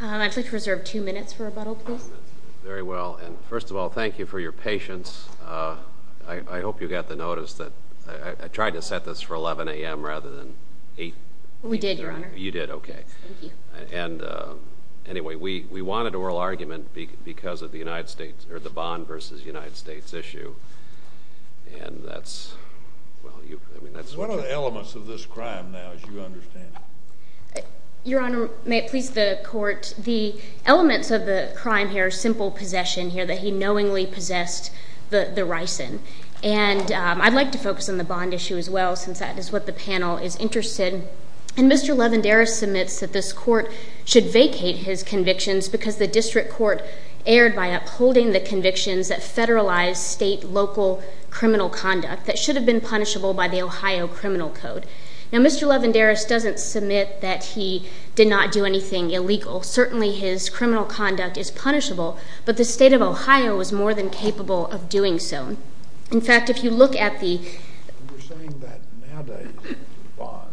I'd like to reserve two minutes for rebuttal, please. Very well. And first of all, thank you for your patience. I hope you got the notice that I tried to set this for 11 a.m. rather than 8. We did, Your Honor. You did, okay. Thank you. And anyway, we wanted oral argument because of the United States, or the Bond v. United States issue, and that's, well, you, I mean, that's what you're— What are the elements of this crime now, as you understand it? Your Honor, may it please the Court, the elements of the crime here are simple possession here that he knowingly possessed the ricin. And I'd like to focus on the Bond issue as well since that is what the panel is interested. And Mr. Levenderis submits that this Court should vacate his convictions because the District Court erred by upholding the convictions that federalized state-local criminal conduct that should have been punishable by the Ohio Criminal Code. Now, Mr. Levenderis doesn't submit that he did not do anything illegal. Certainly, his criminal conduct is punishable, but the State of Ohio is more than capable of doing so. In fact, if you look at the— You're saying that nowadays with Bond,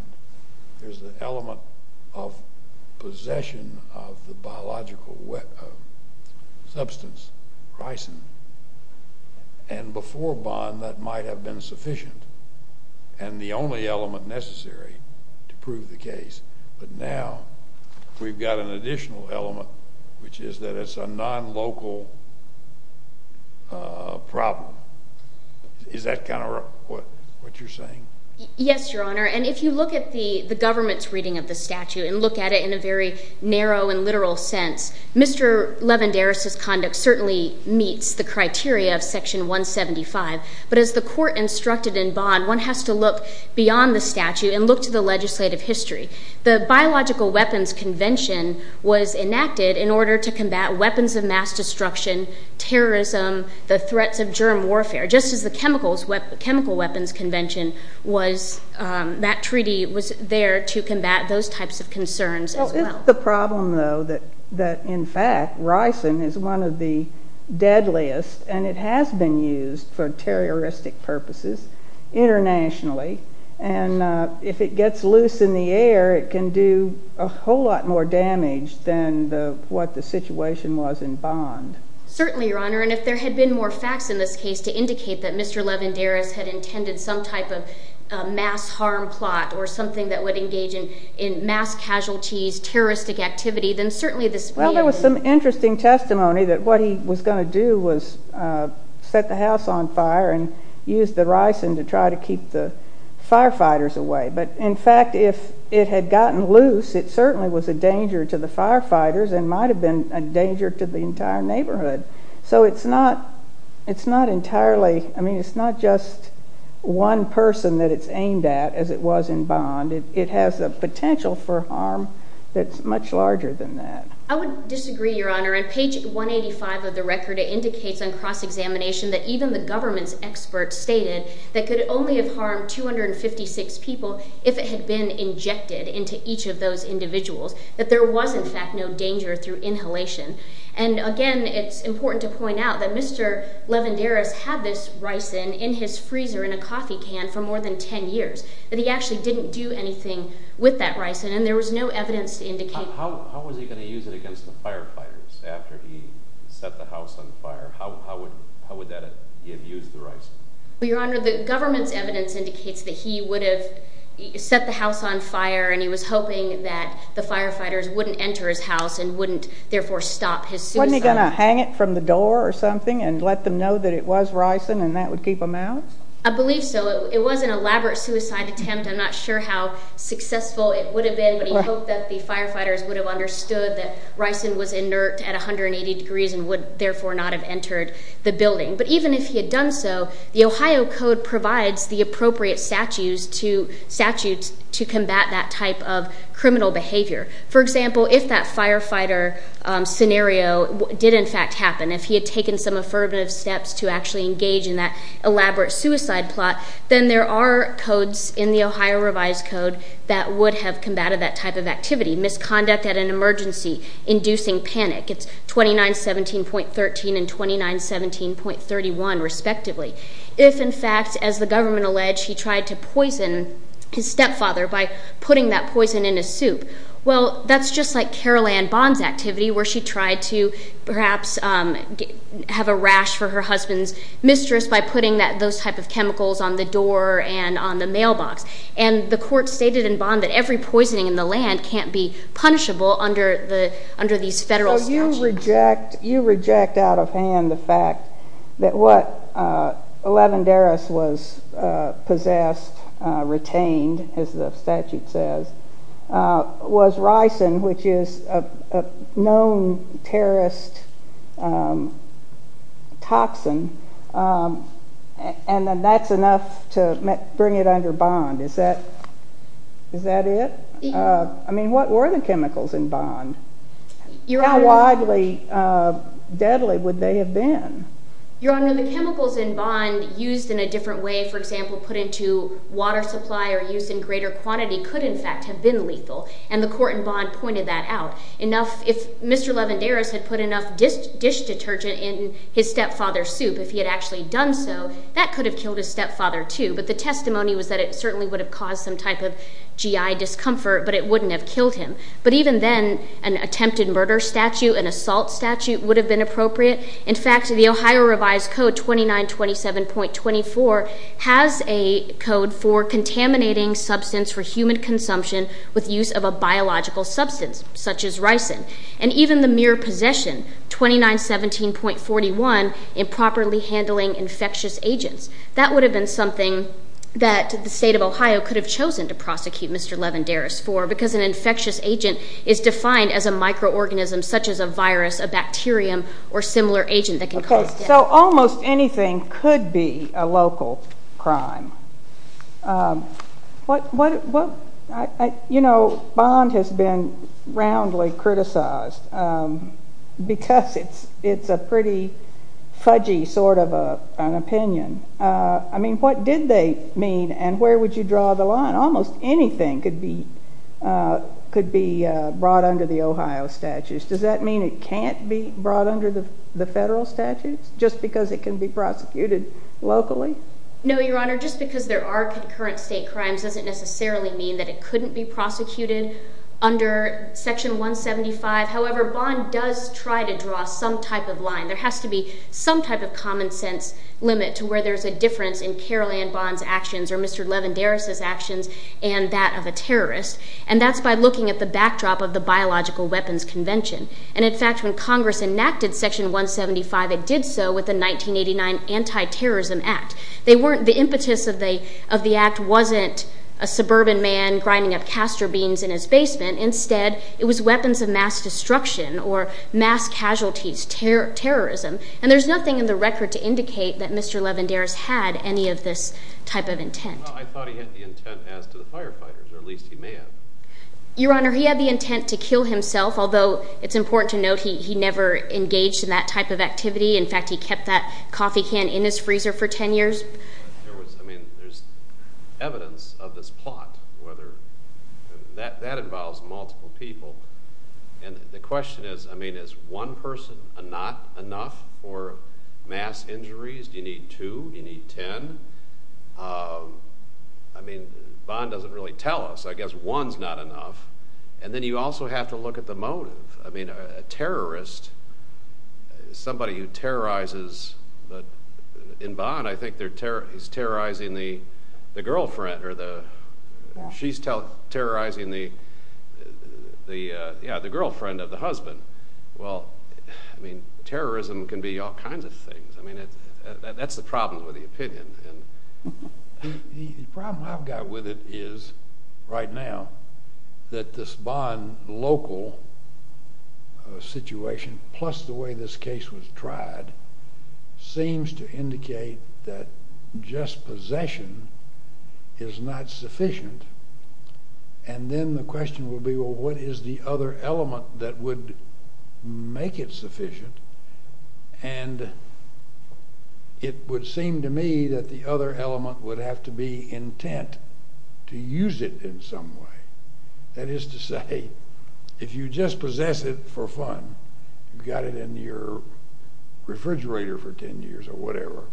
there's an element of possession of the biological substance, ricin. And before Bond, that might have been sufficient and the only element necessary to prove the case. But now, we've got an additional element, which is that it's a non-local problem. Is that kind of what you're saying? Yes, Your Honor. And if you look at the government's reading of the statute and look at it in a very narrow and literal sense, Mr. Levenderis' conduct certainly meets the criteria of Section 175. But as the Court instructed in Bond, one has to look beyond the statute and look to the legislative history. The Biological Weapons Convention was enacted in order to combat weapons of mass destruction, terrorism, the threats of germ warfare, just as the Chemical Weapons Convention was—that treaty was there to combat those types of concerns as well. Well, it's the problem, though, that in fact, ricin is one of the deadliest and it has been used for terroristic purposes internationally. And if it gets loose in the air, it can do a whole lot more damage than what the situation was in Bond. Certainly, Your Honor. And if there had been more facts in this case to indicate that Mr. Levenderis had intended some type of mass harm plot or something that would engage in mass casualties, terroristic activity, then certainly this— Well, there was some interesting testimony that what he was going to do was set the house on fire and use the ricin to try to keep the firefighters away. But in fact, if it had gotten loose, it certainly was a danger to the firefighters and might have been a danger to the entire neighborhood. So it's not—it's not entirely—I mean, it's not just one person that it's aimed at, as it was in Bond. It has a potential for harm that's much larger than that. I would disagree, Your Honor. On page 185 of the record, it indicates on cross-examination that even the government's experts stated that it could only have harmed 256 people if it had been injected into each of those individuals, that there was, in fact, no danger through inhalation. And again, it's important to point out that Mr. Levenderis had this ricin in his freezer in a coffee can for more than 10 years, that he actually didn't do anything with that ricin, and there was no evidence to indicate— How was he going to use it against the firefighters after he set the house on fire? How would that—he had used the ricin? Well, Your Honor, the government's evidence indicates that he would have set the house on fire, and he was hoping that the firefighters wouldn't enter his house and wouldn't, therefore, stop his suicide. Wasn't he going to hang it from the door or something and let them know that it was ricin and that would keep them out? I believe so. It was an elaborate suicide attempt. I'm not sure how successful it would have been, but he hoped that the firefighters would have understood that ricin was inert at 180 degrees and would, therefore, not have entered the building. But even if he had done so, the Ohio Code provides the appropriate statutes to combat that type of criminal behavior. For example, if that firefighter scenario did, in fact, happen, if he had taken some affirmative steps to actually engage in that elaborate suicide plot, then there are codes in the Ohio Revised Code that would have combated that type of activity. Misconduct at an emergency inducing panic. It's 2917.13 and 2917.31, respectively. If, in fact, as the government alleged, he tried to poison his stepfather by putting that poison in his soup, well, that's just like Carol Ann Bond's activity where she tried to perhaps have a rash for her husband's mistress by putting those type of chemicals on the door and on the mailbox. And the court stated in Bond that every poisoning in the land can't be punishable under these federal statutes. So you reject out of hand the fact that what Levendaris was possessed, retained, as the statute says, was ricin, which is a known terrorist toxin, and that's enough to bring it under Bond. Is that it? I mean, what were the chemicals in Bond? How widely deadly would they have been? Your Honor, the chemicals in Bond used in a different way, for example, put into water supply or used in greater quantity could, in fact, have been lethal. And the court in Bond pointed that out. If Mr. Levendaris had put enough dish detergent in his stepfather's soup, if he had actually done so, that could have killed his stepfather, too. But the testimony was that it certainly would have caused some type of GI discomfort, but it wouldn't have killed him. But even then, an attempted murder statute, an assault statute would have been appropriate. In fact, the Ohio Revised Code 2927.24 has a code for contaminating substance for human consumption with use of a biological substance, such as ricin. And even the mere possession 2917.41, improperly handling infectious agents, that would have been something that the state of Ohio could have chosen to prosecute Mr. Levendaris for, because an infectious agent is defined as a microorganism, such as a virus, a bacterium, or similar agent that can cause death. So almost anything could be a local crime. You know, Bond has been roundly criticized because it's a pretty fudgy sort of an opinion. I mean, what did they mean, and where would you draw the line? Almost anything could be brought under the Ohio statutes. Does that just because it can be prosecuted locally? No, Your Honor. Just because there are concurrent state crimes doesn't necessarily mean that it couldn't be prosecuted under Section 175. However, Bond does try to draw some type of line. There has to be some type of common sense limit to where there's a difference in Carol Ann Bond's actions or Mr. Levendaris's actions and that of a terrorist. And that's by looking at the backdrop of the Biological Weapons Convention. And in fact, when Congress enacted Section 175, it did so with the 1989 Anti-Terrorism Act. The impetus of the act wasn't a suburban man grinding up castor beans in his basement. Instead, it was weapons of mass destruction or mass casualties, terrorism. And there's nothing in the record to indicate that Mr. Levendaris had any of this type of intent. Well, I thought he had the intent as to the firefighters, or at least he may have. Your Honor, he had the intent to kill himself, although it's important to note he never engaged in that type of activity. In fact, he kept that coffee can in his freezer for 10 years. There's evidence of this plot. That involves multiple people. And the question is, is one person not enough for mass injuries? Do you need two? Do you need 10? I mean, Bond doesn't really tell us. I guess one's not enough. And then you also have to look at the motive. I mean, a terrorist, somebody who terrorizes, in Bond, I think he's terrorizing the girlfriend or the, she's terrorizing the, yeah, the girlfriend of the husband. Well, I mean, terrorism can be all kinds of things. I mean, that's the problem with the opinion. The problem I've got with it is, right now, that this Bond local situation, plus the way this case was tried, seems to indicate that just possession is not sufficient. And then the question will be, well, what is the other element that would make it sufficient? And it would seem to me that the other element would have to be intent to use it in some way. That is to say, if you just possess it for fun, you've got it in your refrigerator for 10 years or whatever,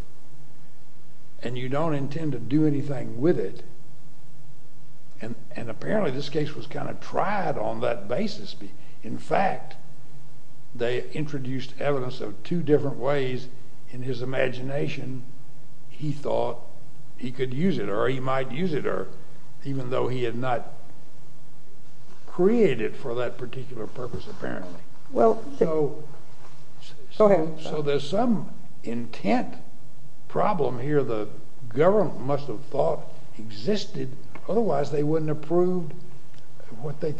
and you don't intend to do anything with it, and apparently this case was kind of tried on that basis. In fact, they introduced evidence of two different ways in his imagination he thought he could use it, or he might use it, or even though he had not created for that particular purpose, apparently. So there's some intent problem here the government must have thought existed, otherwise they wouldn't have proved what they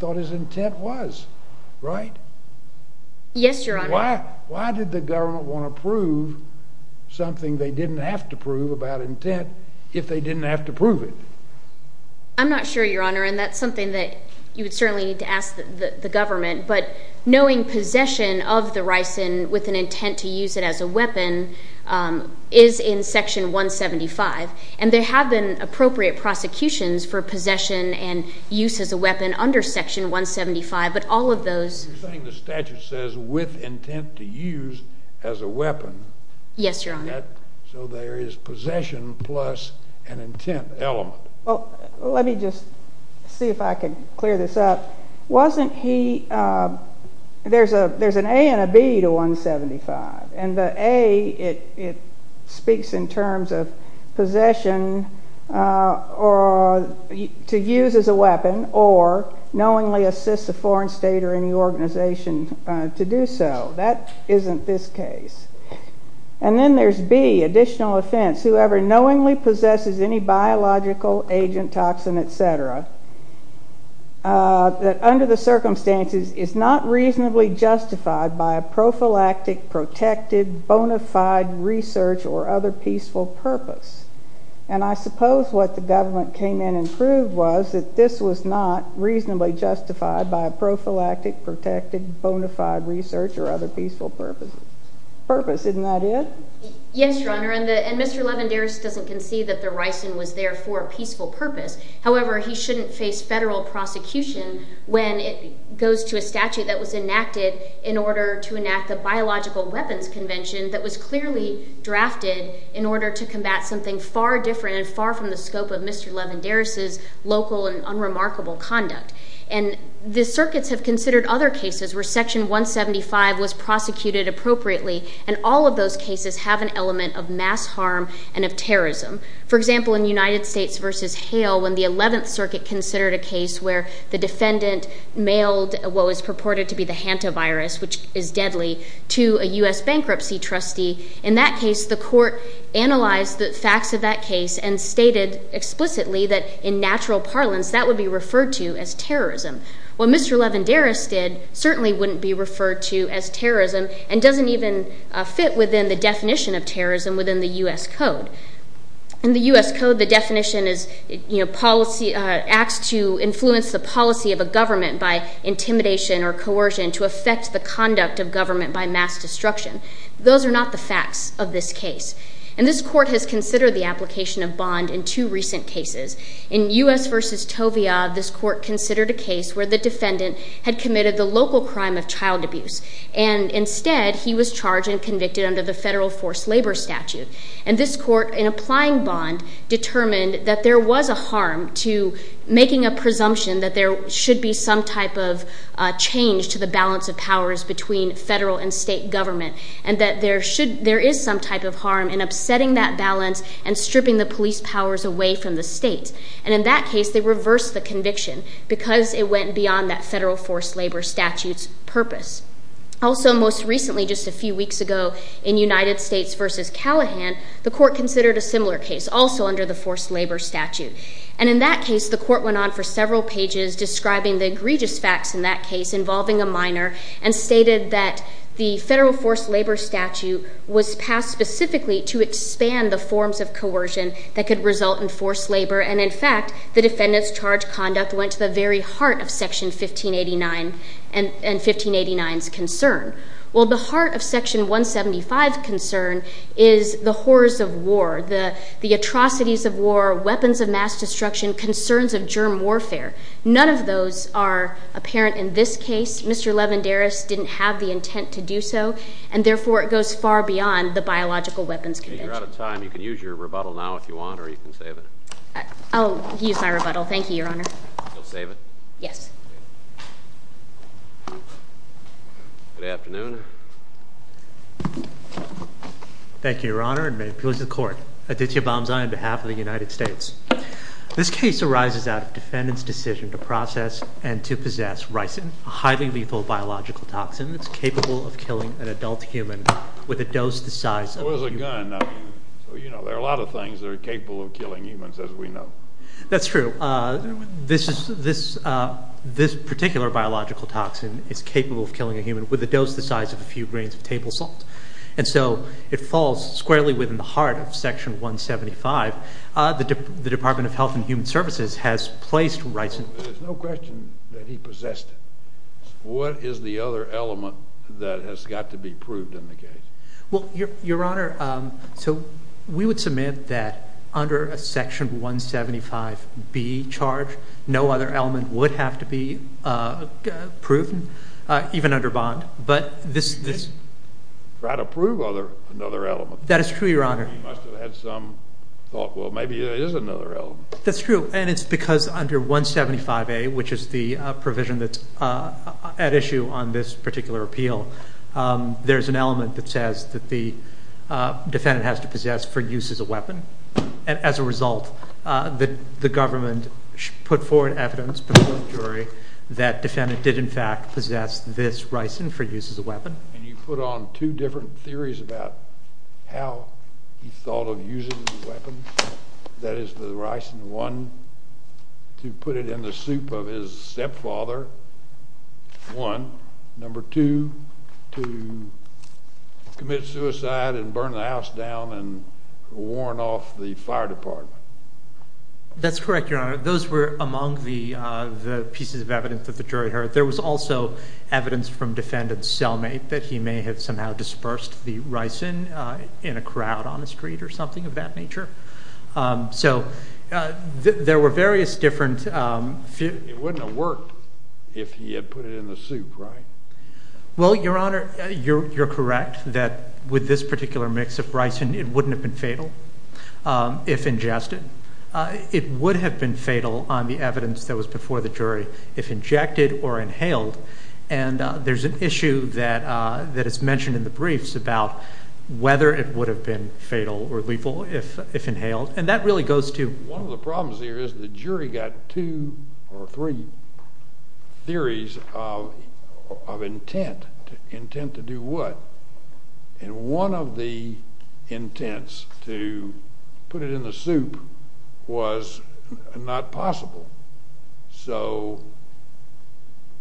want to prove, something they didn't have to prove about intent, if they didn't have to prove it. I'm not sure, Your Honor, and that's something that you would certainly need to ask the government, but knowing possession of the ricin with an intent to use it as a weapon is in Section 175, and there have been appropriate prosecutions for possession and use as a weapon under Section 175, but all of those... You're saying the statute says with intent to use as a weapon? Yes, Your Honor. So there is possession plus an intent element. Well, let me just see if I can clear this up. Wasn't he... There's an A and a B to 175, and the A, it speaks in terms of possession to use as a weapon, or knowingly assist a person to do so. That isn't this case. And then there's B, additional offense, whoever knowingly possesses any biological agent, toxin, etc., that under the circumstances is not reasonably justified by a prophylactic, protected, bona fide research or other peaceful purpose. And I suppose what the government came in and proved was that this was not reasonably justified by a prophylactic, protected, bona fide research or other peaceful purpose. Purpose, isn't that it? Yes, Your Honor, and Mr. Levendaris doesn't concede that the ricin was there for a peaceful purpose. However, he shouldn't face federal prosecution when it goes to a statute that was enacted in order to enact the Biological Weapons Convention that was clearly drafted in order to combat something far different and far from the scope of Mr. Levendaris' local and unremarkable conduct. And the circuits have considered other cases where Section 175 was prosecuted appropriately, and all of those cases have an element of mass harm and of terrorism. For example, in United States v. Hale, when the 11th Circuit considered a case where the defendant mailed what was purported to be the Hantavirus, which is deadly, to a U.S. bankruptcy trustee, in that case, the court analyzed the facts of that case and stated explicitly that in natural parlance that would be referred to as terrorism. What Mr. Levendaris did certainly wouldn't be referred to as terrorism and doesn't even fit within the definition of terrorism within the U.S. Code. In the U.S. Code, the definition is, you know, acts to influence the policy of a government by intimidation or coercion to affect the conduct of government by mass destruction. Those are not the facts of this case. And this court has considered the application of bond in two recent cases. In U.S. v. Tovia, this court considered a case where the defendant had committed the local crime of child abuse, and instead, he was charged and convicted under the federal forced labor statute. And this court, in applying bond, determined that there was a harm to making a presumption that there should be some type of change to the statute. There is some type of harm in upsetting that balance and stripping the police powers away from the state. And in that case, they reversed the conviction because it went beyond that federal forced labor statute's purpose. Also, most recently, just a few weeks ago, in United States v. Callahan, the court considered a similar case, also under the forced labor statute. And in that case, the court went on for several pages describing the egregious facts in that case, involving a minor, and stated that the federal forced labor statute was passed specifically to expand the forms of coercion that could result in forced labor. And in fact, the defendant's charged conduct went to the very heart of Section 1589's concern. Well, the heart of Section 175's concern is the horrors of war, the atrocities of war, weapons of mass destruction, concerns of germ warfare. None of those are apparent in this case. Mr. Levendaris didn't have the intent to do so. And therefore, it goes far beyond the biological weapons convention. You're out of time. You can use your rebuttal now if you want, or you can save it. I'll use my rebuttal. Thank you, Your Honor. You'll save it? Yes. Good afternoon. Thank you, Your Honor, and may it please the Court. Aditya Bamzai, on behalf of the United States. This case arises out of defendant's decision to process and to possess ricin, a highly lethal biological toxin that's capable of killing an adult human with a dose the size of a human. So is a gun. So you know, there are a lot of things that are capable of killing humans, as we know. That's true. This particular biological toxin is capable of killing a human with a dose the size of a few grains of table salt. And so it falls squarely within the heart of Section 175. The Department of Health and Human Services has placed ricin. There's no question that he possessed it. What is the other element that has got to be proved in the case? Well, Your Honor, so we would submit that under a Section 175B charge, no other element would have to be proven, even under bond. But this They tried to prove another element. That is true, Your Honor. You must have had some thought, well, maybe there is another element. That's true. And it's because under 175A, which is the provision that's at issue on this particular appeal, there's an element that says that the defendant has to possess for use as a weapon. And as a result, the government put forward evidence before the jury that defendant did, in fact, possess this ricin for use as a weapon. And you put on two different theories about how he thought of using the weapon, that is, the ricin. One, to put it in the soup of his stepfather. One. Number two, to commit suicide and burn the house down and warn off the fire department. That's correct, Your Honor. Those were among the pieces of evidence that the jury heard. There was also evidence from defendant Selmay that he may have somehow dispersed the ricin in a crowd on the street or something of that nature. So there were various different It wouldn't have worked if he had put it in the soup, right? Well, Your Honor, you're correct that with this particular mix of ricin, it wouldn't have been fatal if ingested. It would have been fatal on the evidence that was before the jury if injected or inhaled. And there's an issue that is mentioned in the briefs about whether it would have been fatal or lethal if inhaled. And that really goes to One of the problems here is the jury got two or three theories of intent. Intent to do what? And one of the intents to put it in the soup was not possible. So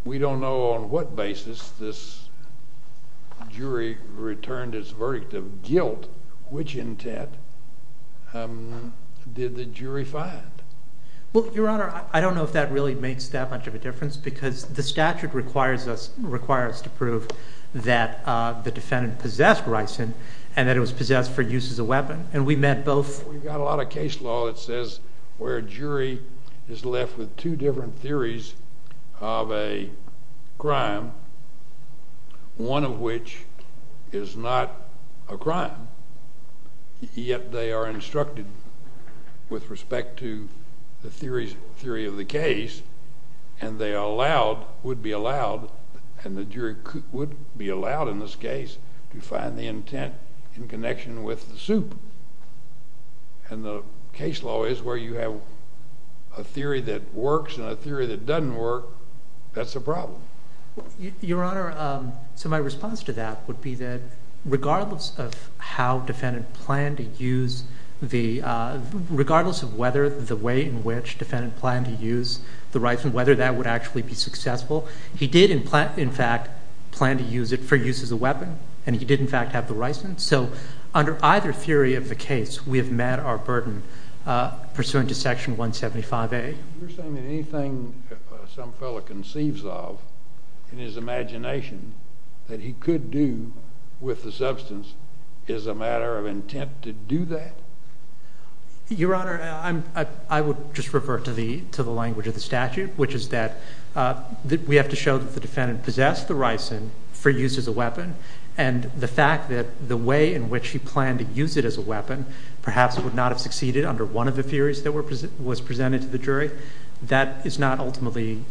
we don't know on what basis this jury returned its verdict of guilt. Which intent did the jury find? Well, Your Honor, I don't know if that really makes that much of a difference because the statute requires us to prove that the defendant possessed ricin and that it was possessed for use as a weapon. And we met both. We've got a lot of case law that says where a jury is left with two different theories of a crime, one of which is not a crime, yet they are instructed with respect to the theory of the case, and they are allowed, would be allowed, and the jury would be allowed in this case to find the intent in connection with the soup. And the case law is where you have a theory that works and a theory that doesn't work. That's a problem. Your Honor, so my response to that would be that regardless of how defendant planned to use the, regardless of whether the way in which defendant planned to use the ricin, whether that would actually be successful, he did in fact plan to use it for use as a weapon, and he did in fact have the ricin. So under either theory of the case, we have met our burden pursuant to Section 175A. You're saying that anything some fellow conceives of in his imagination that he could do with the Your Honor, I would just revert to the language of the statute, which is that we have to show that the defendant possessed the ricin for use as a weapon, and the fact that the way in which he planned to use it as a weapon perhaps would not have succeeded under one of the theories that was presented to the jury, that is not ultimately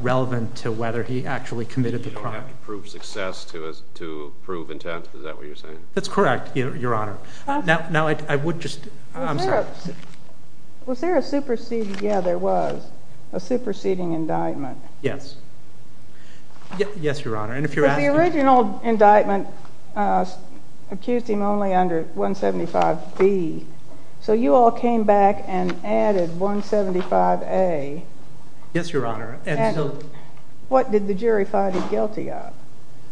relevant to whether he actually committed the crime. You don't have to prove success to prove intent, is that what you're saying? That's correct, Your Honor. Now I would just, I'm sorry. Was there a superseding, yeah there was, a superseding indictment? Yes. Yes, Your Honor, and if you're asking. But the original indictment accused him only under 175B, so you all came back and added 175A. Yes, Your Honor. What did the jury find him guilty of?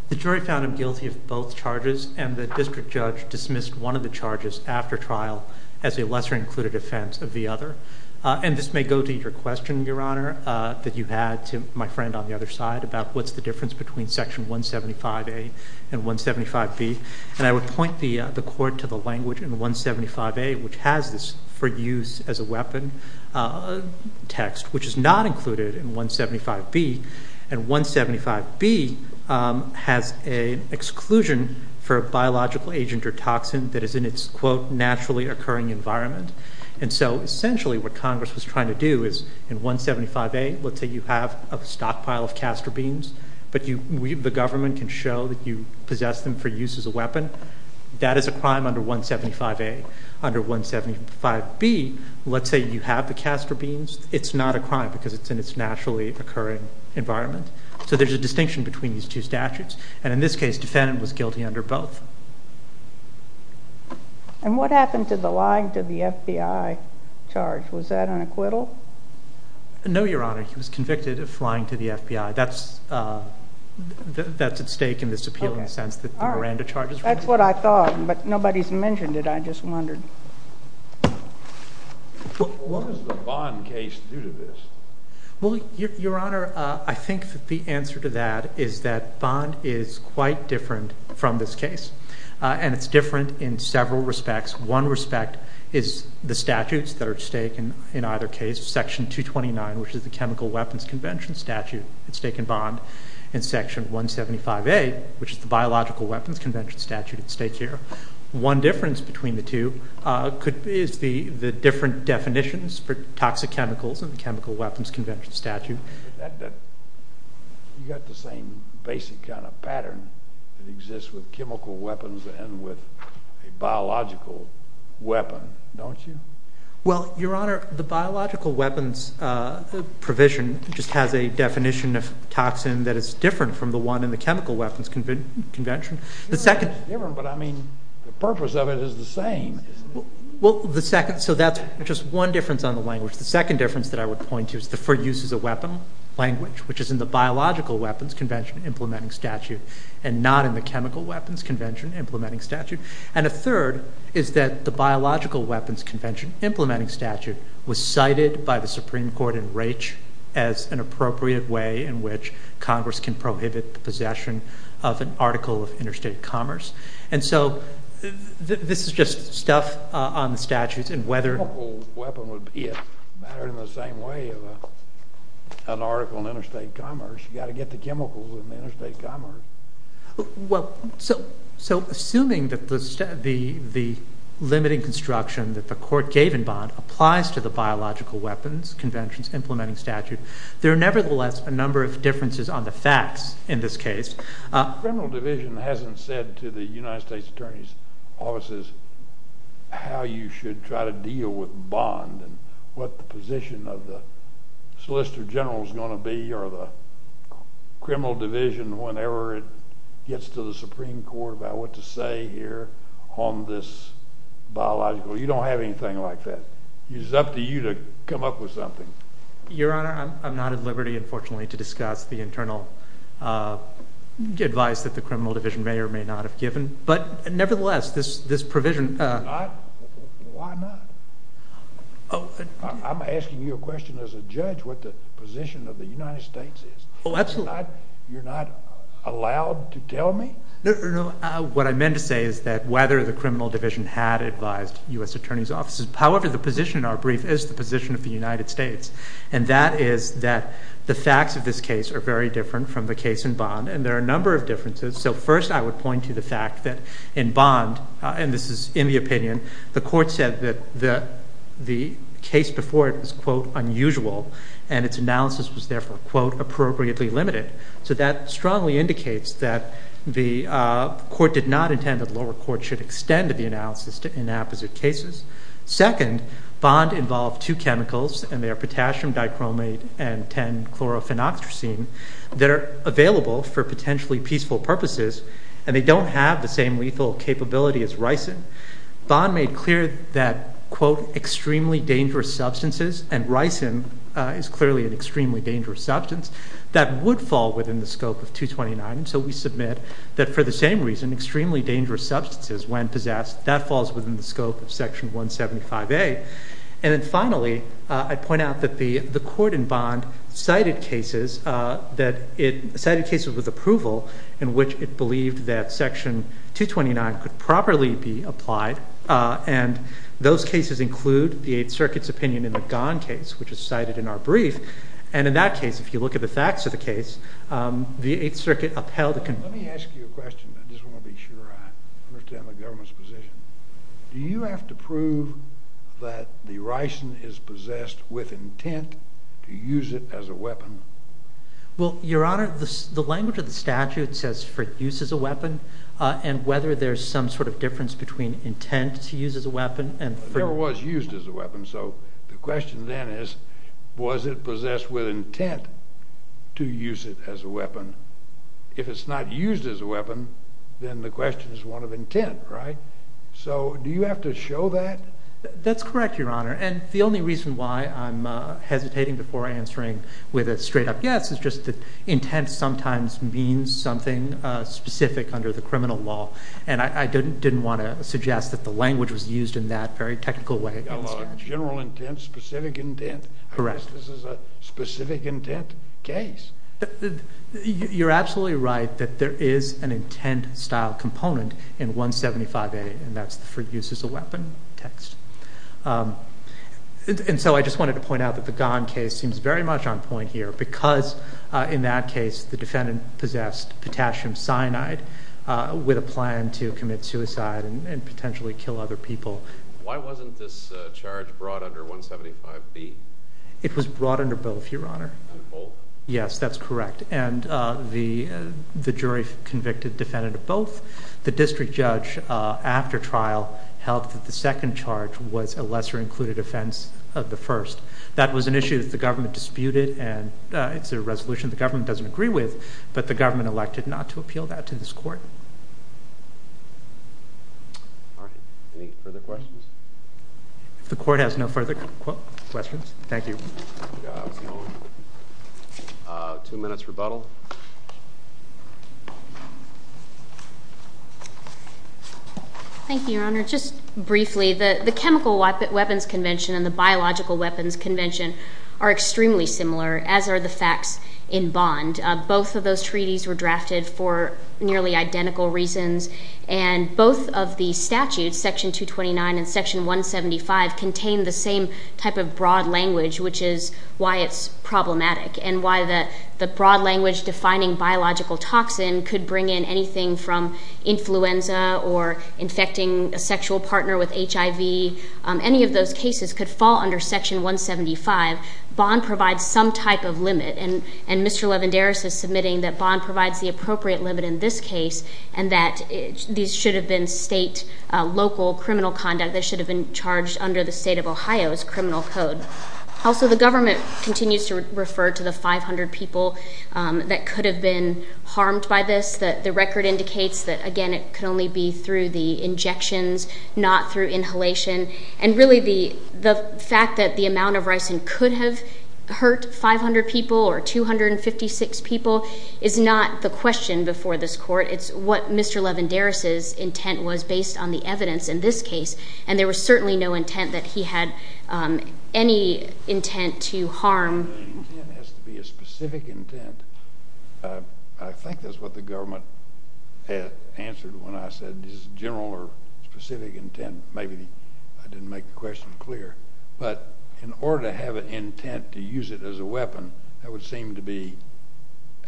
The jury found him guilty of both charges, and the district judge dismissed one of the charges after trial as a lesser included offense of the other, and this may go to your question, Your Honor, that you had to my friend on the other side about what's the difference between section 175A and 175B, and I would point the court to the language in 175A, which has this for use as a weapon text, which is not included in 175B, and 175B has an exclusion for a biological agent or toxin that is in its, quote, naturally occurring environment, and so essentially what Congress was trying to do is in 175A, let's say you have a stockpile of castor beans, but you, the government can show that you possess them for use as a weapon, that is a crime under 175A, under 175B, let's say you have the castor beans, it's not a crime because it's in its naturally occurring environment, so there's a distinction between these two statutes, and in this case, defendant was guilty under both. And what happened to the lying to the FBI charge, was that an acquittal? No, Your Honor, he was convicted of flying to the FBI, that's at stake in this appealing sense that the Miranda charges. That's what I thought, but nobody's mentioned it, I just wondered. What does the Bond case do to this? Well, Your Honor, I think that the answer to that is that Bond is quite different from this case, and it's different in several respects. One respect is the statutes that are at stake in either case, section 229, which is the Chemical Weapons Convention statute at stake in Bond, and section 175A, which is the Biological Weapons Convention statute at stake here. One difference between the two is the different definitions for toxic chemicals and the Chemical Weapons Convention statute. You got the same basic kind of pattern that exists with chemical weapons and with a biological weapon, don't you? Well, Your Honor, the Biological Weapons provision just has a definition of toxin that is different from the one in the Chemical Weapons Convention. It's different, but I mean, the purpose of it is the same, isn't it? Well, the second, so that's just one difference on the language. The second difference that I would point to is the for use as a weapon language, which is in the Biological Weapons Convention implementing statute, and not in the Chemical Weapons Convention implementing statute. And a third is that the Biological Weapons Convention implementing statute was cited by the Supreme Court in Raich as an appropriate way in which Congress can prohibit the possession of an article of interstate commerce. And so this is just stuff on the statutes and whether... A chemical weapon would be a matter in the same way of an article in interstate commerce. You got to get the chemicals in the interstate commerce. Well, so assuming that the limiting construction that the court gave in Bond applies to the Biological Weapons Convention's implementing statute, there are nevertheless a number of differences on the facts in this case. Criminal Division hasn't said to the United States Attorney's offices how you should try to deal with Criminal Division whenever it gets to the Supreme Court about what to say here on this biological. You don't have anything like that. It's up to you to come up with something. Your Honor, I'm not at liberty, unfortunately, to discuss the internal advice that the Criminal Division may or may not have given. But nevertheless, this provision... Why not? I'm asking you a question as a judge, what the position of the United States is. Oh, absolutely. You're not allowed to tell me? No, what I meant to say is that whether the Criminal Division had advised U.S. Attorney's offices, however, the position in our brief is the position of the United States. And that is that the facts of this case are very different from the case in Bond. And there are a number of differences. So first, I would point to the fact that in Bond, and this is in the opinion, the court said that the case before it was, quote, unusual, and its analysis was therefore, quote, appropriately limited. So that strongly indicates that the court did not intend that the lower court should extend the analysis to inapposite cases. Second, Bond involved two chemicals, and they are potassium dichromate and 10-chlorophenoxyacin, that are available for potentially peaceful purposes, and they don't have the same lethal capability as ricin. Bond made clear that, quote, extremely dangerous substances, and ricin is clearly an extremely dangerous substance, that would fall within the scope of 229. So we submit that for the same reason, extremely dangerous substances, when possessed, that falls within the scope of Section 175A. And then finally, I'd point out that the court in Bond cited cases with approval, in which it believed that Section 229 could properly be applied, and those cases include the Eighth Circuit's opinion in the Gone case, which is cited in our brief. And in that case, if you look at the facts of the case, the Eighth Circuit upheld the conclusion... Let me ask you a question. I just want to be sure I understand the government's position. Do you have to prove that the ricin is possessed with intent to use it as a weapon? Well, Your Honor, the language of the statute says for use as a weapon, and whether there's some sort of difference between intent to use as a weapon and... There was used as a weapon, so the question then is, was it possessed with intent to use it as a weapon? If it's not used as a weapon, then the question is one of intent, right? So do you have to show that? That's correct, Your Honor. And the only reason why I'm hesitating before answering with a straight up yes is just that intent sometimes means something specific under the criminal law. And I didn't want to suggest that the language was used in that very technical way. General intent, specific intent. I guess this is a specific intent case. You're absolutely right that there is an intent style component in 175A, and that's for use as a weapon text. And so I just wanted to point out that the Gahn case seems very much on point here because in that case, the defendant possessed potassium cyanide with a plan to commit suicide and potentially kill other people. Why wasn't this charge brought under 175B? It was brought under both, Your Honor. Both? Yes, that's correct. And the jury convicted defendant of both. The district judge after trial held that the second charge was a lesser included offense of the first. That was an issue that the government disputed, and it's a resolution the government doesn't agree with, but the government elected not to appeal that to this court. All right. Any further questions? If the court has no further questions, thank you. Two minutes rebuttal. Thank you, Your Honor. Just briefly, the Chemical Weapons Convention and the Biological Weapons Convention are extremely similar, as are the facts in Bond. Both of those treaties were drafted for identical reasons, and both of the statutes, Section 229 and Section 175, contain the same type of broad language, which is why it's problematic, and why the broad language defining biological toxin could bring in anything from influenza or infecting a sexual partner with HIV. Any of those cases could fall under Section 175. Bond provides some type of limit, and Mr. and that these should have been state, local criminal conduct. They should have been charged under the state of Ohio's criminal code. Also, the government continues to refer to the 500 people that could have been harmed by this. The record indicates that, again, it could only be through the injections, not through inhalation. And really, the fact that the amount of ricin could have hurt 500 people or 256 people is not the question before this court. It's what Mr. Levenderis's intent was based on the evidence in this case, and there was certainly no intent that he had any intent to harm. The intent has to be a specific intent. I think that's what the government had answered when I said this general or specific intent. Maybe I didn't make the question clear, but in order to have an intent to use it as a weapon, that would seem to be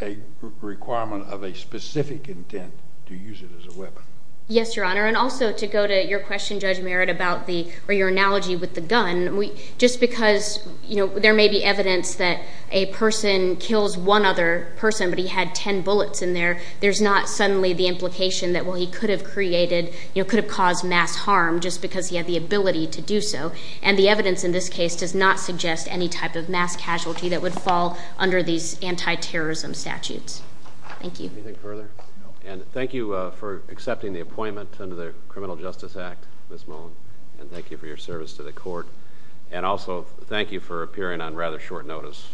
a requirement of a specific intent to use it as a weapon. Yes, Your Honor, and also to go to your question, Judge Merritt, about the, or your analogy with the gun, we, just because, you know, there may be evidence that a person kills one other person, but he had 10 bullets in there, there's not suddenly the implication that, well, he could have created, you know, could have caused mass harm just because he had the ability to do so, and the evidence in this case does not suggest any type of mass casualty that would fall under these anti-terrorism statutes. Thank you. Anything further? No. And thank you for accepting the appointment under the Criminal Justice Act, Ms. Mullen, and thank you for your service to the court, and also thank you for appearing on rather short notice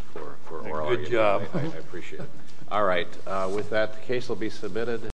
for all of you. Good job. I appreciate it. All right, with that, the case will be submitted.